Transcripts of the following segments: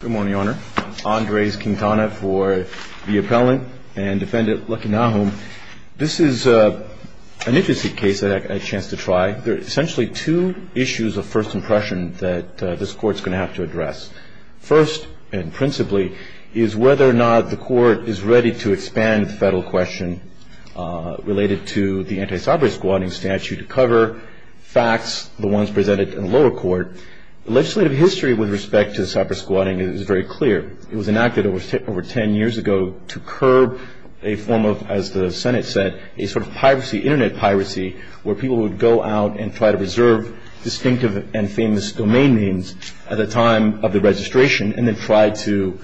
Good morning, Your Honor. Andres Quintana for the appellant and defendant Lucky Nahum. This is an interesting case that I had a chance to try. There are essentially two issues of first impression that this court's going to have to address. First, and principally, is whether or not the court is ready to expand the federal question related to the anti-cybersquatting statute to cover facts, the ones presented in the lower court. The legislative history with respect to cybersquatting is very clear. It was enacted over 10 years ago to curb a form of, as the Senate said, a sort of piracy, internet piracy, where people would go out and try to reserve distinctive and famous domain names at the time of the registration and then try to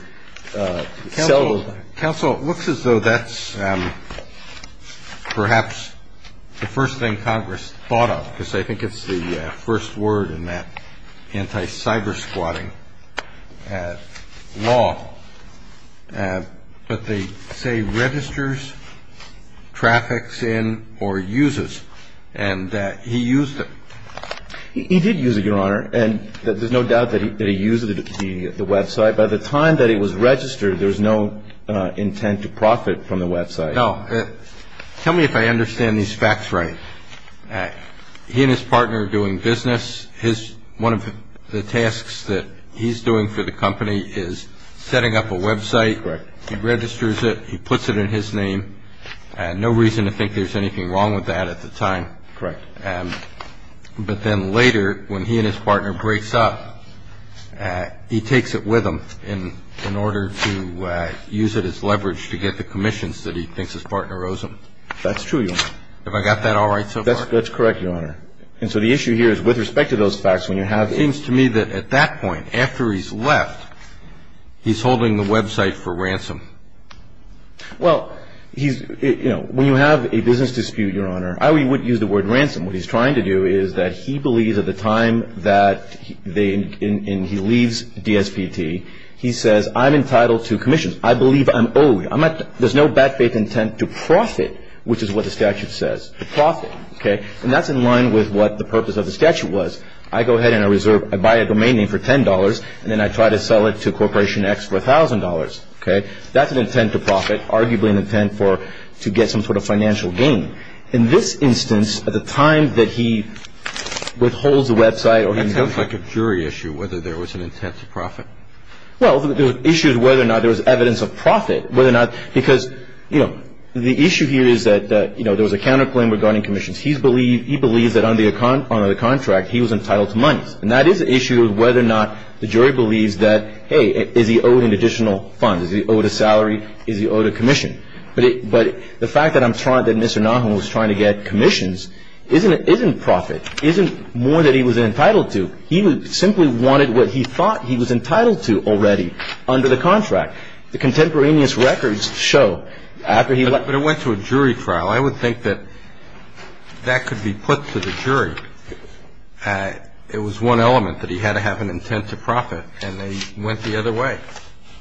sell those. Counsel, it looks as though that's perhaps the first thing Congress thought of, because I think it's the first word in that anti-cybersquatting law. But they say registers, traffics in, or uses, and that he used it. He did use it, Your Honor, and there's no doubt that he used the website. By the time that it was registered, there was no intent to profit from the website. No. Tell me if I understand these facts right. He and his partner are doing business. One of the tasks that he's doing for the company is setting up a website. Correct. He registers it. He puts it in his name. No reason to think there's anything wrong with that at the time. Correct. But then later, when he and his partner breaks up, he takes it with him in order to use it as leverage to get the commissions that he thinks his partner owes him. That's true, Your Honor. Have I got that all right so far? That's correct, Your Honor. And so the issue here is, with respect to those facts, when you have the... It seems to me that at that point, after he's left, he's holding the website for ransom. Well, when you have a business dispute, Your Honor, I would use the word ransom. What he's trying to do is that he believes at the time that he leaves DSPT, he says, I'm entitled to commissions. I believe I'm owed. There's no back-bait intent to profit, which is what the statute says, to profit. And that's in line with what the purpose of the statute was. I go ahead and I buy a domain name for $10, and then I try to sell it to Corporation X for $1,000. That's an intent to profit, arguably an intent to get some sort of financial gain. In this instance, at the time that he withholds the website... That sounds like a jury issue, whether there was an intent to profit. Well, the issue is whether or not there was evidence of profit, whether or not... Because the issue here is that there was a counterclaim regarding commissions. He believes that under the contract, he was entitled to money. And that is the issue of whether or not the jury believes that, hey, is he owed an additional fund? Is he owed a salary? Is he owed a commission? But the fact that Mr. Nahum was trying to get commissions isn't profit. It isn't more that he was entitled to. He simply wanted what he thought he was entitled to already under the contract. The contemporaneous records show after he left... But it went to a jury trial. I would think that that could be put to the jury. It was one element that he had to have an intent to profit, and they went the other way.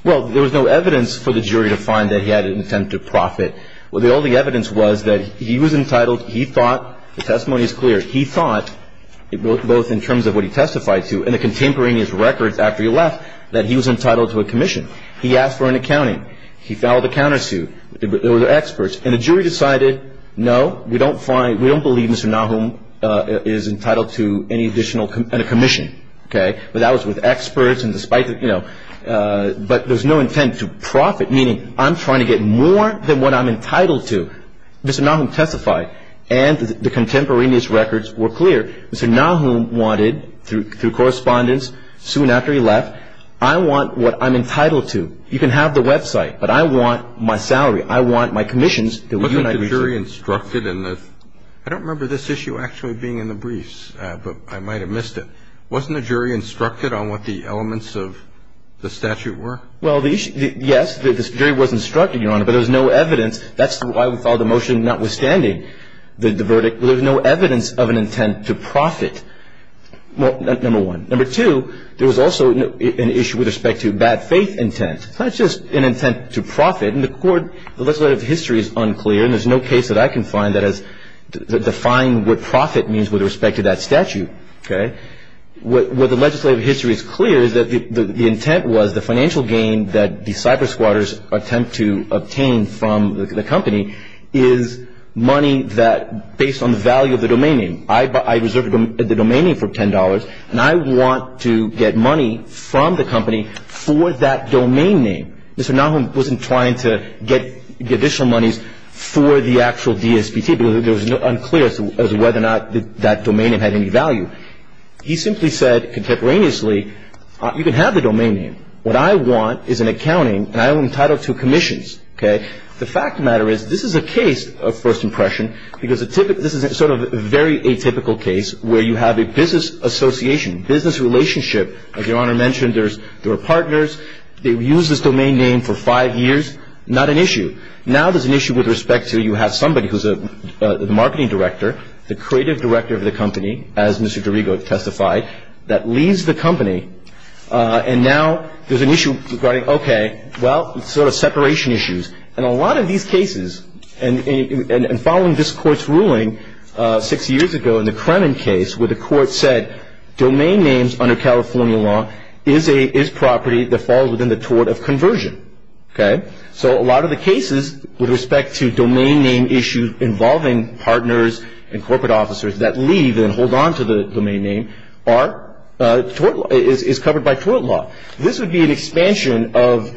Well, there was no evidence for the jury to find that he had an intent to profit. Well, the only evidence was that he was entitled, he thought, the testimony is clear, he thought, both in terms of what he testified to and the contemporaneous records after he left, that he was entitled to a commission. He asked for an accounting. He filed a countersuit. There were experts. And the jury decided, no, we don't believe Mr. Nahum is entitled to any additional commission. But that was with experts. But there's no intent to profit, meaning I'm trying to get more than what I'm entitled to. Mr. Nahum testified, and the contemporaneous records were clear. Mr. Nahum wanted, through correspondence, soon after he left, I want what I'm entitled to. You can have the website, but I want my salary. I want my commissions. I don't remember this issue actually being in the briefs, but I might have missed it. Wasn't the jury instructed on what the elements of the statute were? Well, yes, the jury was instructed, Your Honor, but there was no evidence. That's why we filed the motion notwithstanding the verdict. There was no evidence of an intent to profit, number one. Number two, there was also an issue with respect to bad faith intent. It's not just an intent to profit. In the court, the legislative history is unclear, and there's no case that I can find that has defined what profit means with respect to that statute. Okay? What the legislative history is clear is that the intent was the financial gain that the cyber squatters attempt to obtain from the company is money that, based on the value of the domain name. I reserved the domain name for $10, and I want to get money from the company for that domain name. Mr. Nahum wasn't trying to get additional monies for the actual DSPT because it was unclear as to whether or not that domain name had any value. He simply said contemporaneously, you can have the domain name. What I want is an accounting, and I am entitled to commissions. Okay? The fact of the matter is this is a case of first impression because this is sort of a very atypical case where you have a business association, business relationship. As Your Honor mentioned, there are partners. They've used this domain name for five years. Not an issue. Now there's an issue with respect to you have somebody who's a marketing director, the creative director of the company, as Mr. Dorigo testified, that leads the company, and now there's an issue regarding, okay, well, sort of separation issues. And a lot of these cases, and following this Court's ruling six years ago in the Kremen case, where the Court said domain names under California law is property that falls within the tort of conversion. Okay? So a lot of the cases with respect to domain name issues involving partners and corporate officers that leave and hold on to the domain name is covered by tort law. This would be an expansion of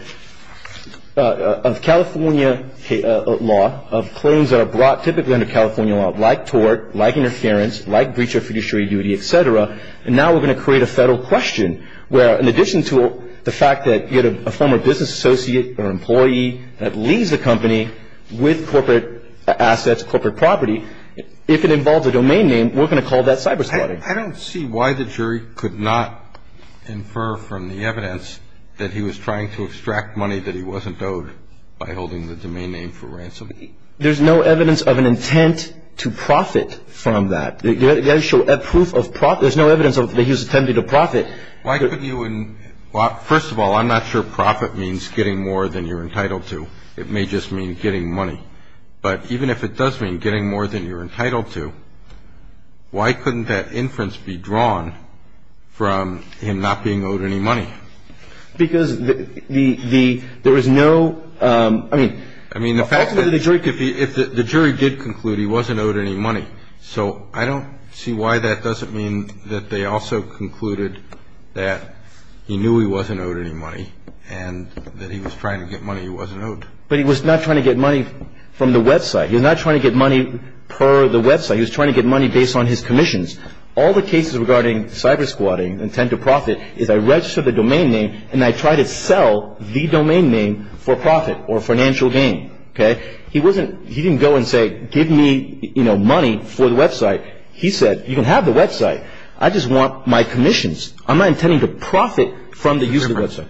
California law, of claims that are brought typically under California law, like tort, like interference, like breach of fiduciary duty, et cetera. And now we're going to create a federal question where, in addition to the fact that you had a former business associate or employee that leaves the company with corporate assets, corporate property, if it involves a domain name, we're going to call that cyber-slaughtering. I don't see why the jury could not infer from the evidence that he was trying to extract money that he wasn't owed by holding the domain name for ransom. There's no evidence of an intent to profit from that. There's no evidence that he was attempting to profit. First of all, I'm not sure profit means getting more than you're entitled to. It may just mean getting money. But even if it does mean getting more than you're entitled to, why couldn't that inference be drawn from him not being owed any money? Because there is no – I mean – I mean, the fact that if the jury did conclude he wasn't owed any money. So I don't see why that doesn't mean that they also concluded that he knew he wasn't owed any money and that he was trying to get money he wasn't owed. But he was not trying to get money from the website. He was not trying to get money per the website. He was trying to get money based on his commissions. All the cases regarding cyber-slaughtering, intent to profit, is I register the domain name and I try to sell the domain name for profit or financial gain, okay? He wasn't – he didn't go and say give me, you know, money for the website. He said you can have the website. I just want my commissions. I'm not intending to profit from the use of the website.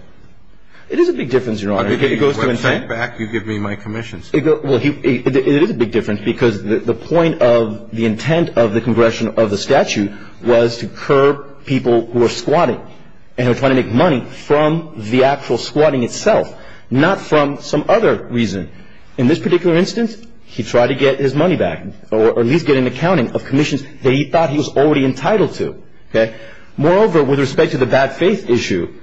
It is a big difference, Your Honor, if it goes to intent. When I get back, you give me my commissions. Well, it is a big difference because the point of the intent of the congression of the statute was to curb people who are squatting and are trying to make money from the actual squatting itself, not from some other reason. In this particular instance, he tried to get his money back or at least get an accounting of commissions that he thought he was already entitled to, okay? Moreover, with respect to the bad faith issue,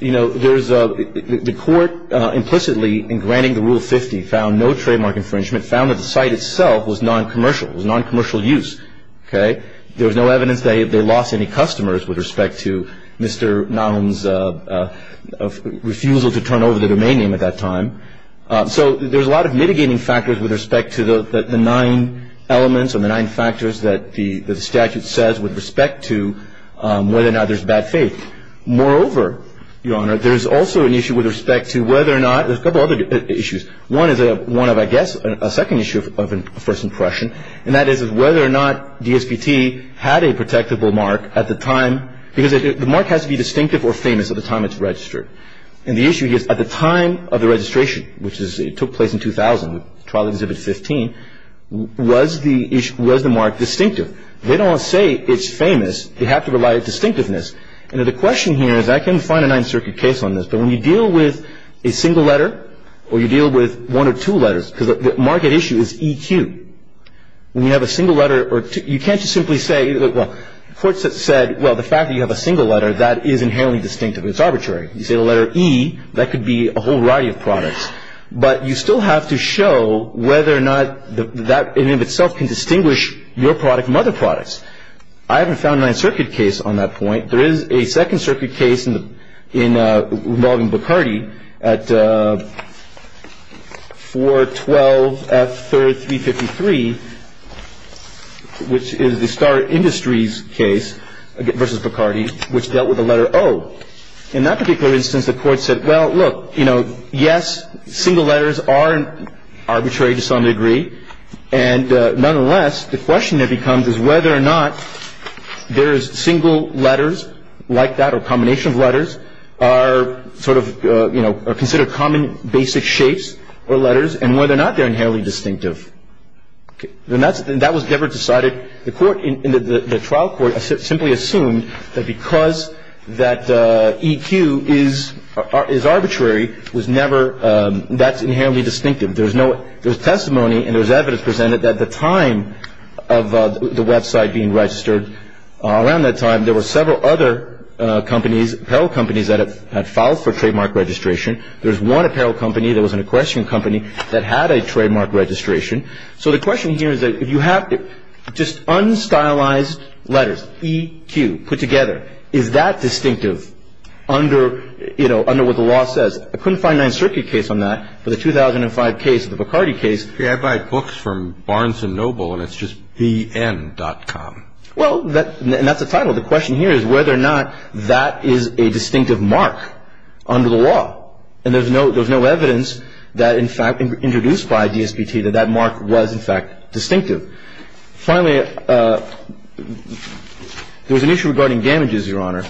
you know, there's – the court implicitly in granting the Rule 50 found no trademark infringement, found that the site itself was non-commercial, was non-commercial use, okay? There was no evidence they lost any customers with respect to Mr. Nahum's refusal to turn over the domain name at that time. So there's a lot of mitigating factors with respect to the nine elements or the nine factors that the statute says with respect to whether or not there's bad faith. Moreover, Your Honor, there's also an issue with respect to whether or not – there's a couple other issues. One is one of, I guess, a second issue of first impression, and that is whether or not DSPT had a protectable mark at the time – because the mark has to be distinctive or famous at the time it's registered. And the issue is at the time of the registration, which took place in 2000, trial Exhibit 15, was the issue – was the mark distinctive? They don't say it's famous. They have to rely on distinctiveness. And the question here is I can find a Ninth Circuit case on this, but when you deal with a single letter or you deal with one or two letters – because the market issue is EQ. When you have a single letter or – you can't just simply say – well, the court said, well, the fact that you have a single letter, that is inherently distinctive. It's arbitrary. You say the letter E, that could be a whole variety of products. But you still have to show whether or not that in and of itself can distinguish your product from other products. I haven't found a Ninth Circuit case on that point. There is a Second Circuit case involving Bacardi at 412F3353, which is the Star Industries case versus Bacardi, which dealt with the letter O. In that particular instance, the court said, well, look, you know, yes, single letters are arbitrary to some degree. And nonetheless, the question that becomes is whether or not there is single letters like that or a combination of letters are sort of, you know, are considered common basic shapes or letters and whether or not they're inherently distinctive. And that was never decided. The trial court simply assumed that because that EQ is arbitrary, that's inherently distinctive. There was testimony and there was evidence presented at the time of the website being registered. Around that time, there were several other apparel companies that had filed for trademark registration. There was one apparel company that was an equestrian company that had a trademark registration. So the question here is that if you have just unstylized letters, EQ put together, is that distinctive under, you know, under what the law says? I couldn't find a Ninth Circuit case on that, but the 2005 case, the Bacardi case. I buy books from Barnes & Noble and it's just BN.com. Well, and that's the title. The question here is whether or not that is a distinctive mark under the law. And there's no evidence that, in fact, introduced by DSPT that that mark was, in fact, distinctive. Finally, there was an issue regarding damages, Your Honor.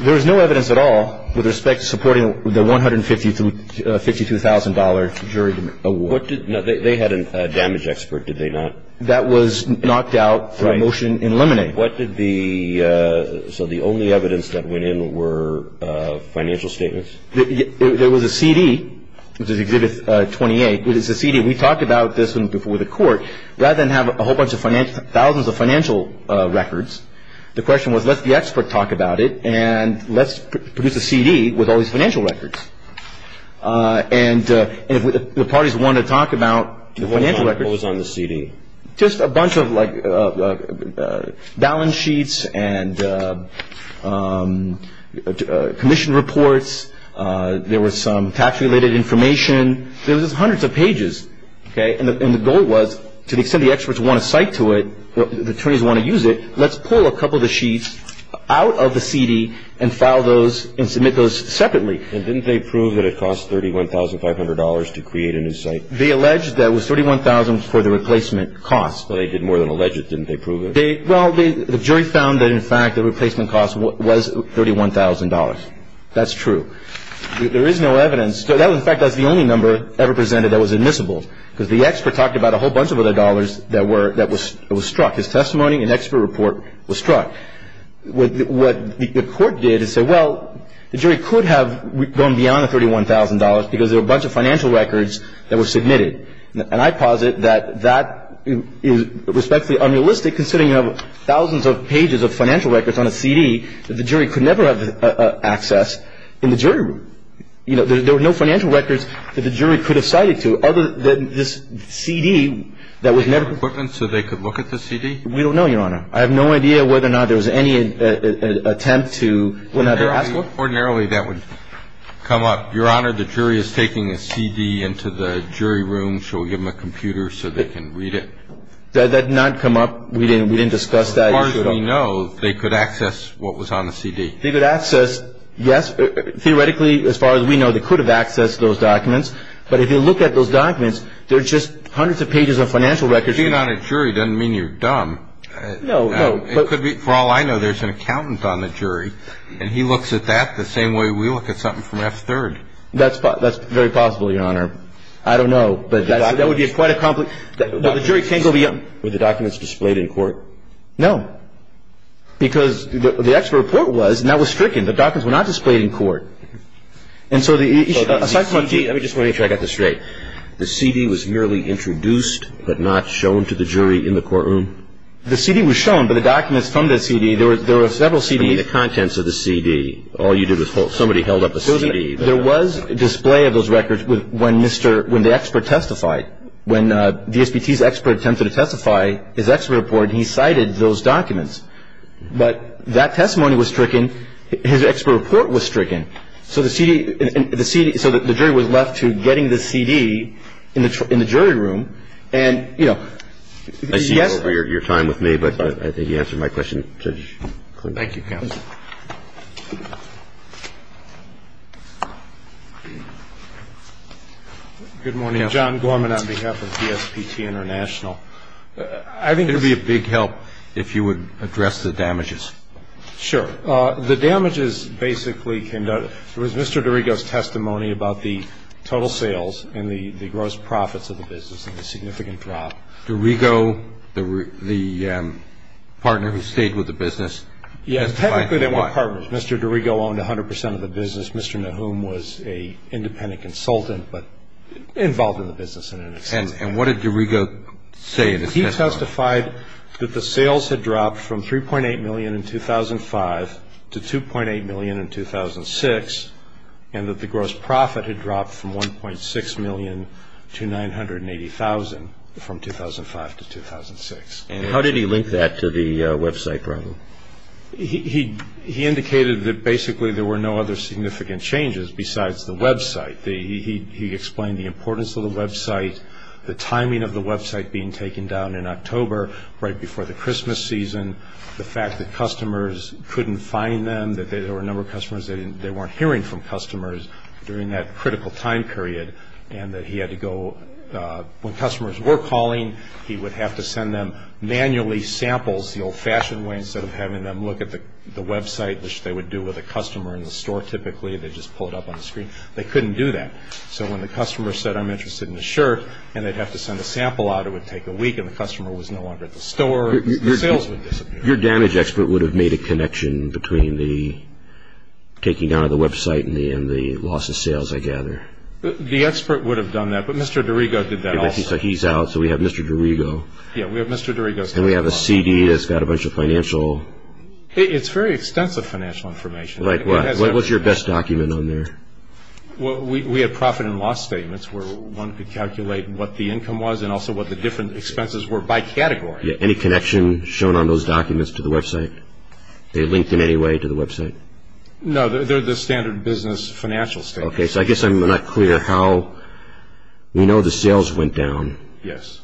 There is no evidence at all with respect to supporting the $152,000 jury award. They had a damage expert, did they not? That was knocked out for a motion in limine. What did the so the only evidence that went in were financial statements? There was a CD, which is Exhibit 28. It is a CD. We talked about this one before the court. Rather than have a whole bunch of financial, thousands of financial records, the question was let the expert talk about it and let's produce a CD with all these financial records. And if the parties want to talk about the financial records. What was on the CD? Just a bunch of, like, balance sheets and commission reports. There was some tax-related information. There was hundreds of pages, okay? And the goal was to the extent the experts want to cite to it, the attorneys want to use it, let's pull a couple of the sheets out of the CD and file those and submit those separately. And didn't they prove that it cost $31,500 to create a new site? They alleged that it was $31,000 for the replacement cost. But they did more than allege it, didn't they prove it? Well, the jury found that, in fact, the replacement cost was $31,000. That's true. There is no evidence. In fact, that's the only number ever presented that was admissible, because the expert talked about a whole bunch of other dollars that were struck. His testimony and expert report were struck. What the court did is say, well, the jury could have gone beyond the $31,000 because there were a bunch of financial records that were submitted. And I posit that that is respectfully unrealistic, considering you have thousands of pages of financial records on a CD that the jury could never have access in the jury room. You know, there were no financial records that the jury could have cited to other than this CD that was never ---- Equipment so they could look at the CD? We don't know, Your Honor. I have no idea whether or not there was any attempt to ---- Ordinarily, that would come up. Your Honor, the jury is taking a CD into the jury room. Shall we give them a computer so they can read it? That did not come up. We didn't discuss that. As far as we know, they could access what was on the CD. They could access, yes. Theoretically, as far as we know, they could have accessed those documents. But if you look at those documents, there are just hundreds of pages of financial records. Being on a jury doesn't mean you're dumb. No, no. Well, for all I know, there's an accountant on the jury, and he looks at that the same way we look at something from F3rd. That's very possible, Your Honor. I don't know. But that would be quite a complex ---- But the jury can't go beyond ---- Were the documents displayed in court? No. Because the actual report was, and that was stricken, the documents were not displayed in court. And so the issue ---- Let me just make sure I got this straight. The CD was merely introduced but not shown to the jury in the courtroom? The CD was shown, but the documents from the CD, there were several CDs ---- You mean the contents of the CD. All you did was somebody held up a CD. There was a display of those records when the expert testified. When VSPT's expert attempted to testify, his expert reported he cited those documents. But that testimony was stricken. His expert report was stricken. So the jury was left to getting the CD in the jury room. And, you know, yes ---- I see you're over your time with me, but I think you answered my question pretty clearly. Thank you, counsel. Good morning. John Gorman on behalf of VSPT International. I think it's ---- It would be a big help if you would address the damages. Sure. The damages basically came down to ---- It was Mr. DiRigo's testimony about the total sales and the gross profits of the business and the significant drop. DiRigo, the partner who stayed with the business, testified that he was. Yes, technically they were partners. Mr. DiRigo owned 100 percent of the business. Mr. Nahum was an independent consultant, but involved in the business in that sense. And what did DiRigo say in his testimony? He testified that the sales had dropped from 3.8 million in 2005 to 2.8 million in 2006, and that the gross profit had dropped from 1.6 million to 980,000 from 2005 to 2006. And how did he link that to the website problem? He indicated that basically there were no other significant changes besides the website. He explained the importance of the website, the timing of the website being taken down in October, right before the Christmas season, the fact that customers couldn't find them, that there were a number of customers that they weren't hearing from customers during that critical time period, and that he had to go ---- When customers were calling, he would have to send them manually samples the old-fashioned way instead of having them look at the website, which they would do with a customer in the store typically. They'd just pull it up on the screen. They couldn't do that. So when the customer said, I'm interested in this shirt, and they'd have to send a sample out, it would take a week, and the customer was no longer at the store. The sales would disappear. Your damage expert would have made a connection between the taking down of the website and the loss of sales, I gather. The expert would have done that, but Mr. DiRigo did that also. So he's out. So we have Mr. DiRigo. Yeah, we have Mr. DiRigo. And we have a CD that's got a bunch of financial ---- It's very extensive financial information. Like what? What was your best document on there? Well, we had profit and loss statements where one could calculate what the income was and also what the different expenses were by category. Yeah, any connection shown on those documents to the website? They linked in any way to the website? No, they're the standard business financial statements. Okay, so I guess I'm not clear how. We know the sales went down. Yes.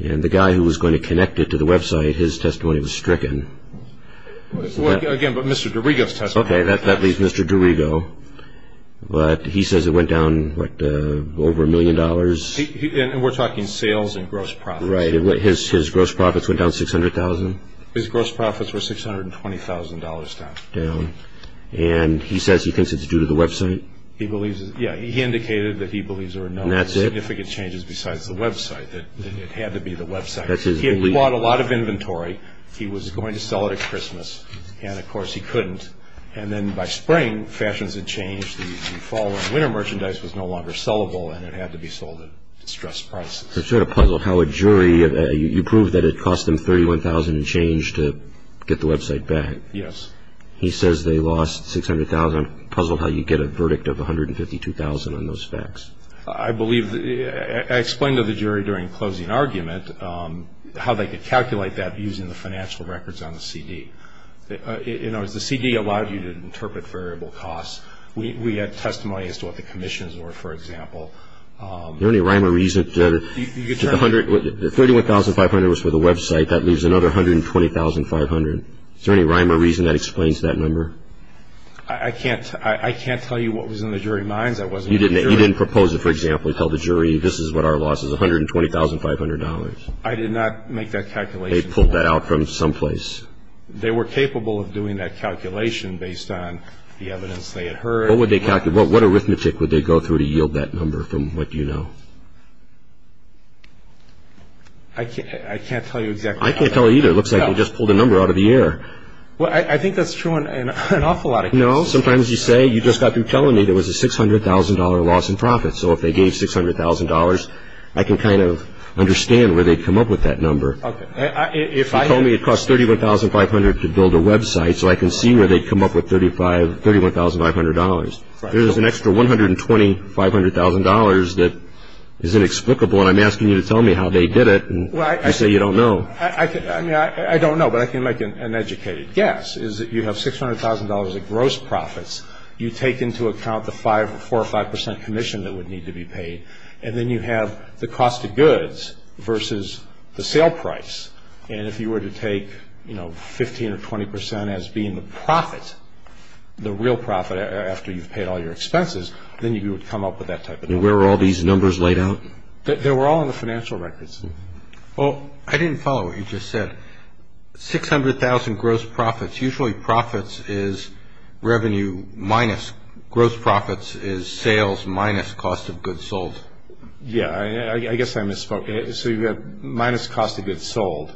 And the guy who was going to connect it to the website, his testimony was stricken. Again, but Mr. DiRigo's testimony. Okay, that leaves Mr. DiRigo. But he says it went down, what, over a million dollars. And we're talking sales and gross profits. Right. His gross profits went down $600,000? His gross profits were $620,000 down. Down. And he says he thinks it's due to the website? Yeah, he indicated that he believes there were no significant changes besides the website, that it had to be the website. He had bought a lot of inventory. He was going to sell it at Christmas. And, of course, he couldn't. And then by spring, fashions had changed. The fall and winter merchandise was no longer sellable, and it had to be sold at distressed prices. I'm sort of puzzled how a jury, you proved that it cost them $31,000 and change to get the website back. Yes. He says they lost $600,000. I'm puzzled how you get a verdict of $152,000 on those facts. I believe I explained to the jury during closing argument how they could calculate that using the financial records on the CD. In other words, the CD allowed you to interpret variable costs. We had testimony as to what the commissions were, for example. Is there any rhyme or reason that $31,500 was for the website, that leaves another $120,500? Is there any rhyme or reason that explains that number? I can't tell you what was in the jury minds. You didn't propose it, for example, to tell the jury this is what our loss is, $120,500. I did not make that calculation. They pulled that out from someplace. They were capable of doing that calculation based on the evidence they had heard. What arithmetic would they go through to yield that number from what you know? I can't tell you exactly how that happened. I can't tell you either. It looks like you just pulled a number out of the air. I think that's true in an awful lot of cases. No, sometimes you say you just got through telling me there was a $600,000 loss in profits. So if they gave $600,000, I can kind of understand where they'd come up with that number. Okay. If you told me it cost $31,500 to build a website, so I can see where they'd come up with $31,500. There's an extra $120,000, $500,000 that is inexplicable, and I'm asking you to tell me how they did it. You say you don't know. I don't know, but I can make an educated guess. I can make an educated guess is that you have $600,000 of gross profits. You take into account the 4% or 5% commission that would need to be paid, and then you have the cost of goods versus the sale price. And if you were to take, you know, 15% or 20% as being the profit, the real profit, after you've paid all your expenses, then you would come up with that type of number. And where were all these numbers laid out? They were all in the financial records. Well, I didn't follow what you just said. $600,000 gross profits, usually profits is revenue minus gross profits is sales minus cost of goods sold. Yeah, I guess I misspoke. So you have minus cost of goods sold,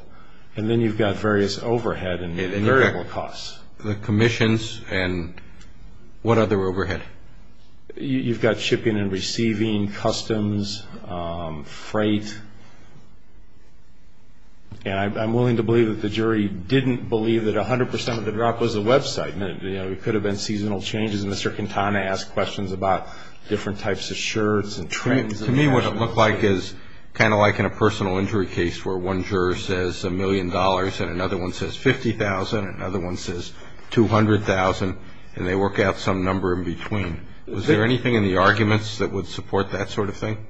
and then you've got various overhead and variable costs. The commissions and what other overhead? You've got shipping and receiving, customs, freight. And I'm willing to believe that the jury didn't believe that 100% of the drop was a website. You know, it could have been seasonal changes, and Mr. Quintana asked questions about different types of shirts and trends. To me, what it looked like is kind of like in a personal injury case where one juror says $1 million and another one says $50,000 and another one says $200,000, and they work out some number in between. Was there anything in the arguments that would support that sort of thing?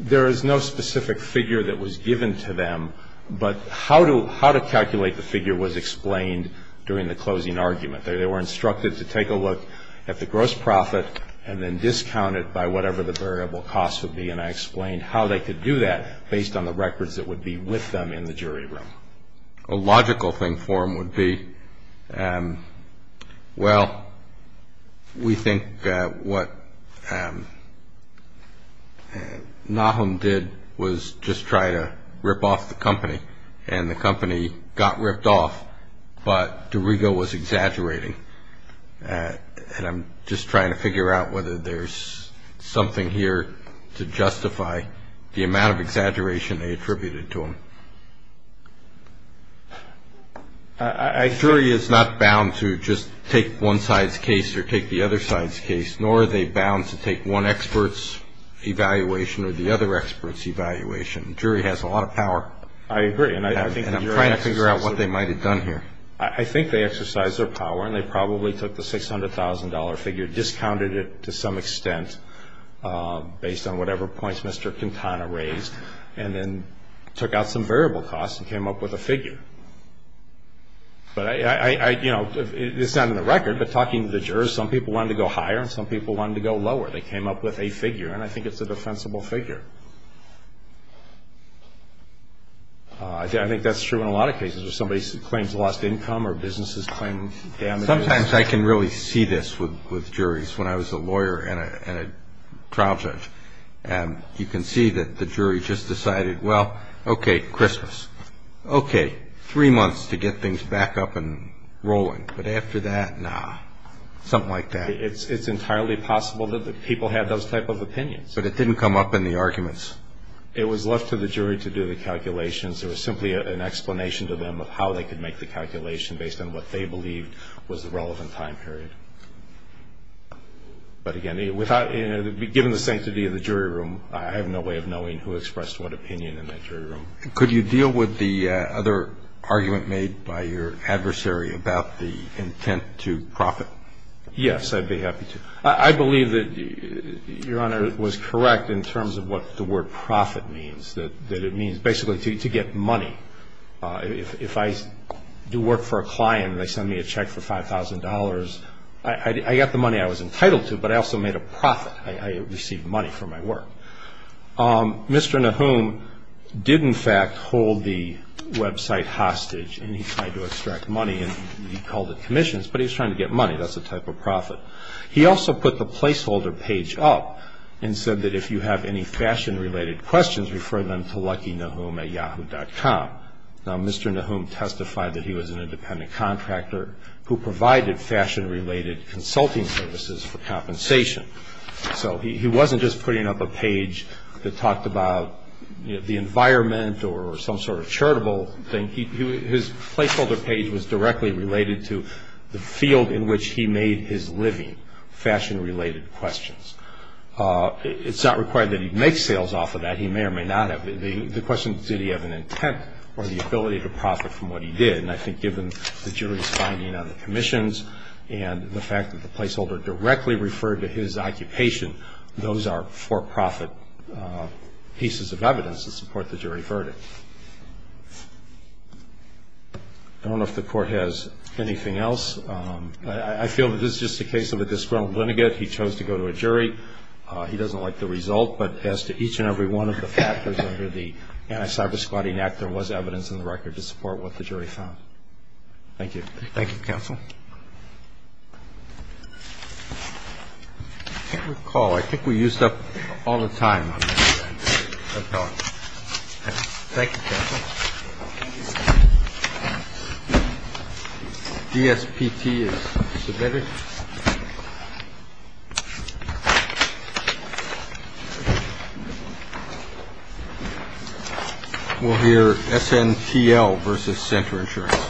There is no specific figure that was given to them, but how to calculate the figure was explained during the closing argument. They were instructed to take a look at the gross profit and then discount it by whatever the variable cost would be, and I explained how they could do that based on the records that would be with them in the jury room. A logical thing for them would be, well, we think what Nahum did was just try to rip off the company, and the company got ripped off, but Dorigo was exaggerating. And I'm just trying to figure out whether there's something here to justify the amount of exaggeration they attributed to him. A jury is not bound to just take one side's case or take the other side's case, nor are they bound to take one expert's evaluation or the other expert's evaluation. A jury has a lot of power, and I'm trying to figure out what they might have done here. I think they exercised their power, and they probably took the $600,000 figure, discounted it to some extent based on whatever points Mr. Quintana raised, and then took out some variable costs and came up with a figure. But, you know, this is not in the record, but talking to the jurors, some people wanted to go higher and some people wanted to go lower. They came up with a figure, and I think it's a defensible figure. I think that's true in a lot of cases where somebody claims lost income or businesses claim damages. Sometimes I can really see this with juries when I was a lawyer and a trial judge, and you can see that the jury just decided, well, okay, Christmas, okay, three months to get things back up and rolling, but after that, nah, something like that. It's entirely possible that the people had those type of opinions. But it didn't come up in the arguments. It was left to the jury to do the calculations. It was simply an explanation to them of how they could make the calculation based on what they believed was the relevant time period. But, again, given the sanctity of the jury room, I have no way of knowing who expressed what opinion in that jury room. Could you deal with the other argument made by your adversary about the intent to profit? Yes, I'd be happy to. I believe that Your Honor was correct in terms of what the word profit means, that it means basically to get money. If I do work for a client and they send me a check for $5,000, I got the money I was entitled to, but I also made a profit. I received money for my work. Mr. Nahum did, in fact, hold the website hostage, and he tried to extract money, and he called it commissions, but he was trying to get money. That's a type of profit. He also put the placeholder page up and said that if you have any fashion-related questions, refer them to LuckyNahum at Yahoo.com. Now, Mr. Nahum testified that he was an independent contractor who provided fashion-related consulting services for compensation. So he wasn't just putting up a page that talked about the environment or some sort of charitable thing. His placeholder page was directly related to the field in which he made his living, fashion-related questions. It's not required that he make sales off of that. He may or may not have. The question is did he have an intent or the ability to profit from what he did, and I think given the jury's finding on the commissions and the fact that the placeholder directly referred to his occupation, those are for-profit pieces of evidence to support the jury verdict. I don't know if the Court has anything else. I feel that this is just a case of a disgruntled lineage. He chose to go to a jury. He doesn't like the result, but as to each and every one of the factors under the Anti-Cyberspotting Act, there was evidence in the record to support what the jury found. Thank you. Thank you, counsel. I can't recall. I think we used up all the time on that. Thank you, counsel. Thank you. DSPT is submitted. We'll hear SNTL versus Center Insurance.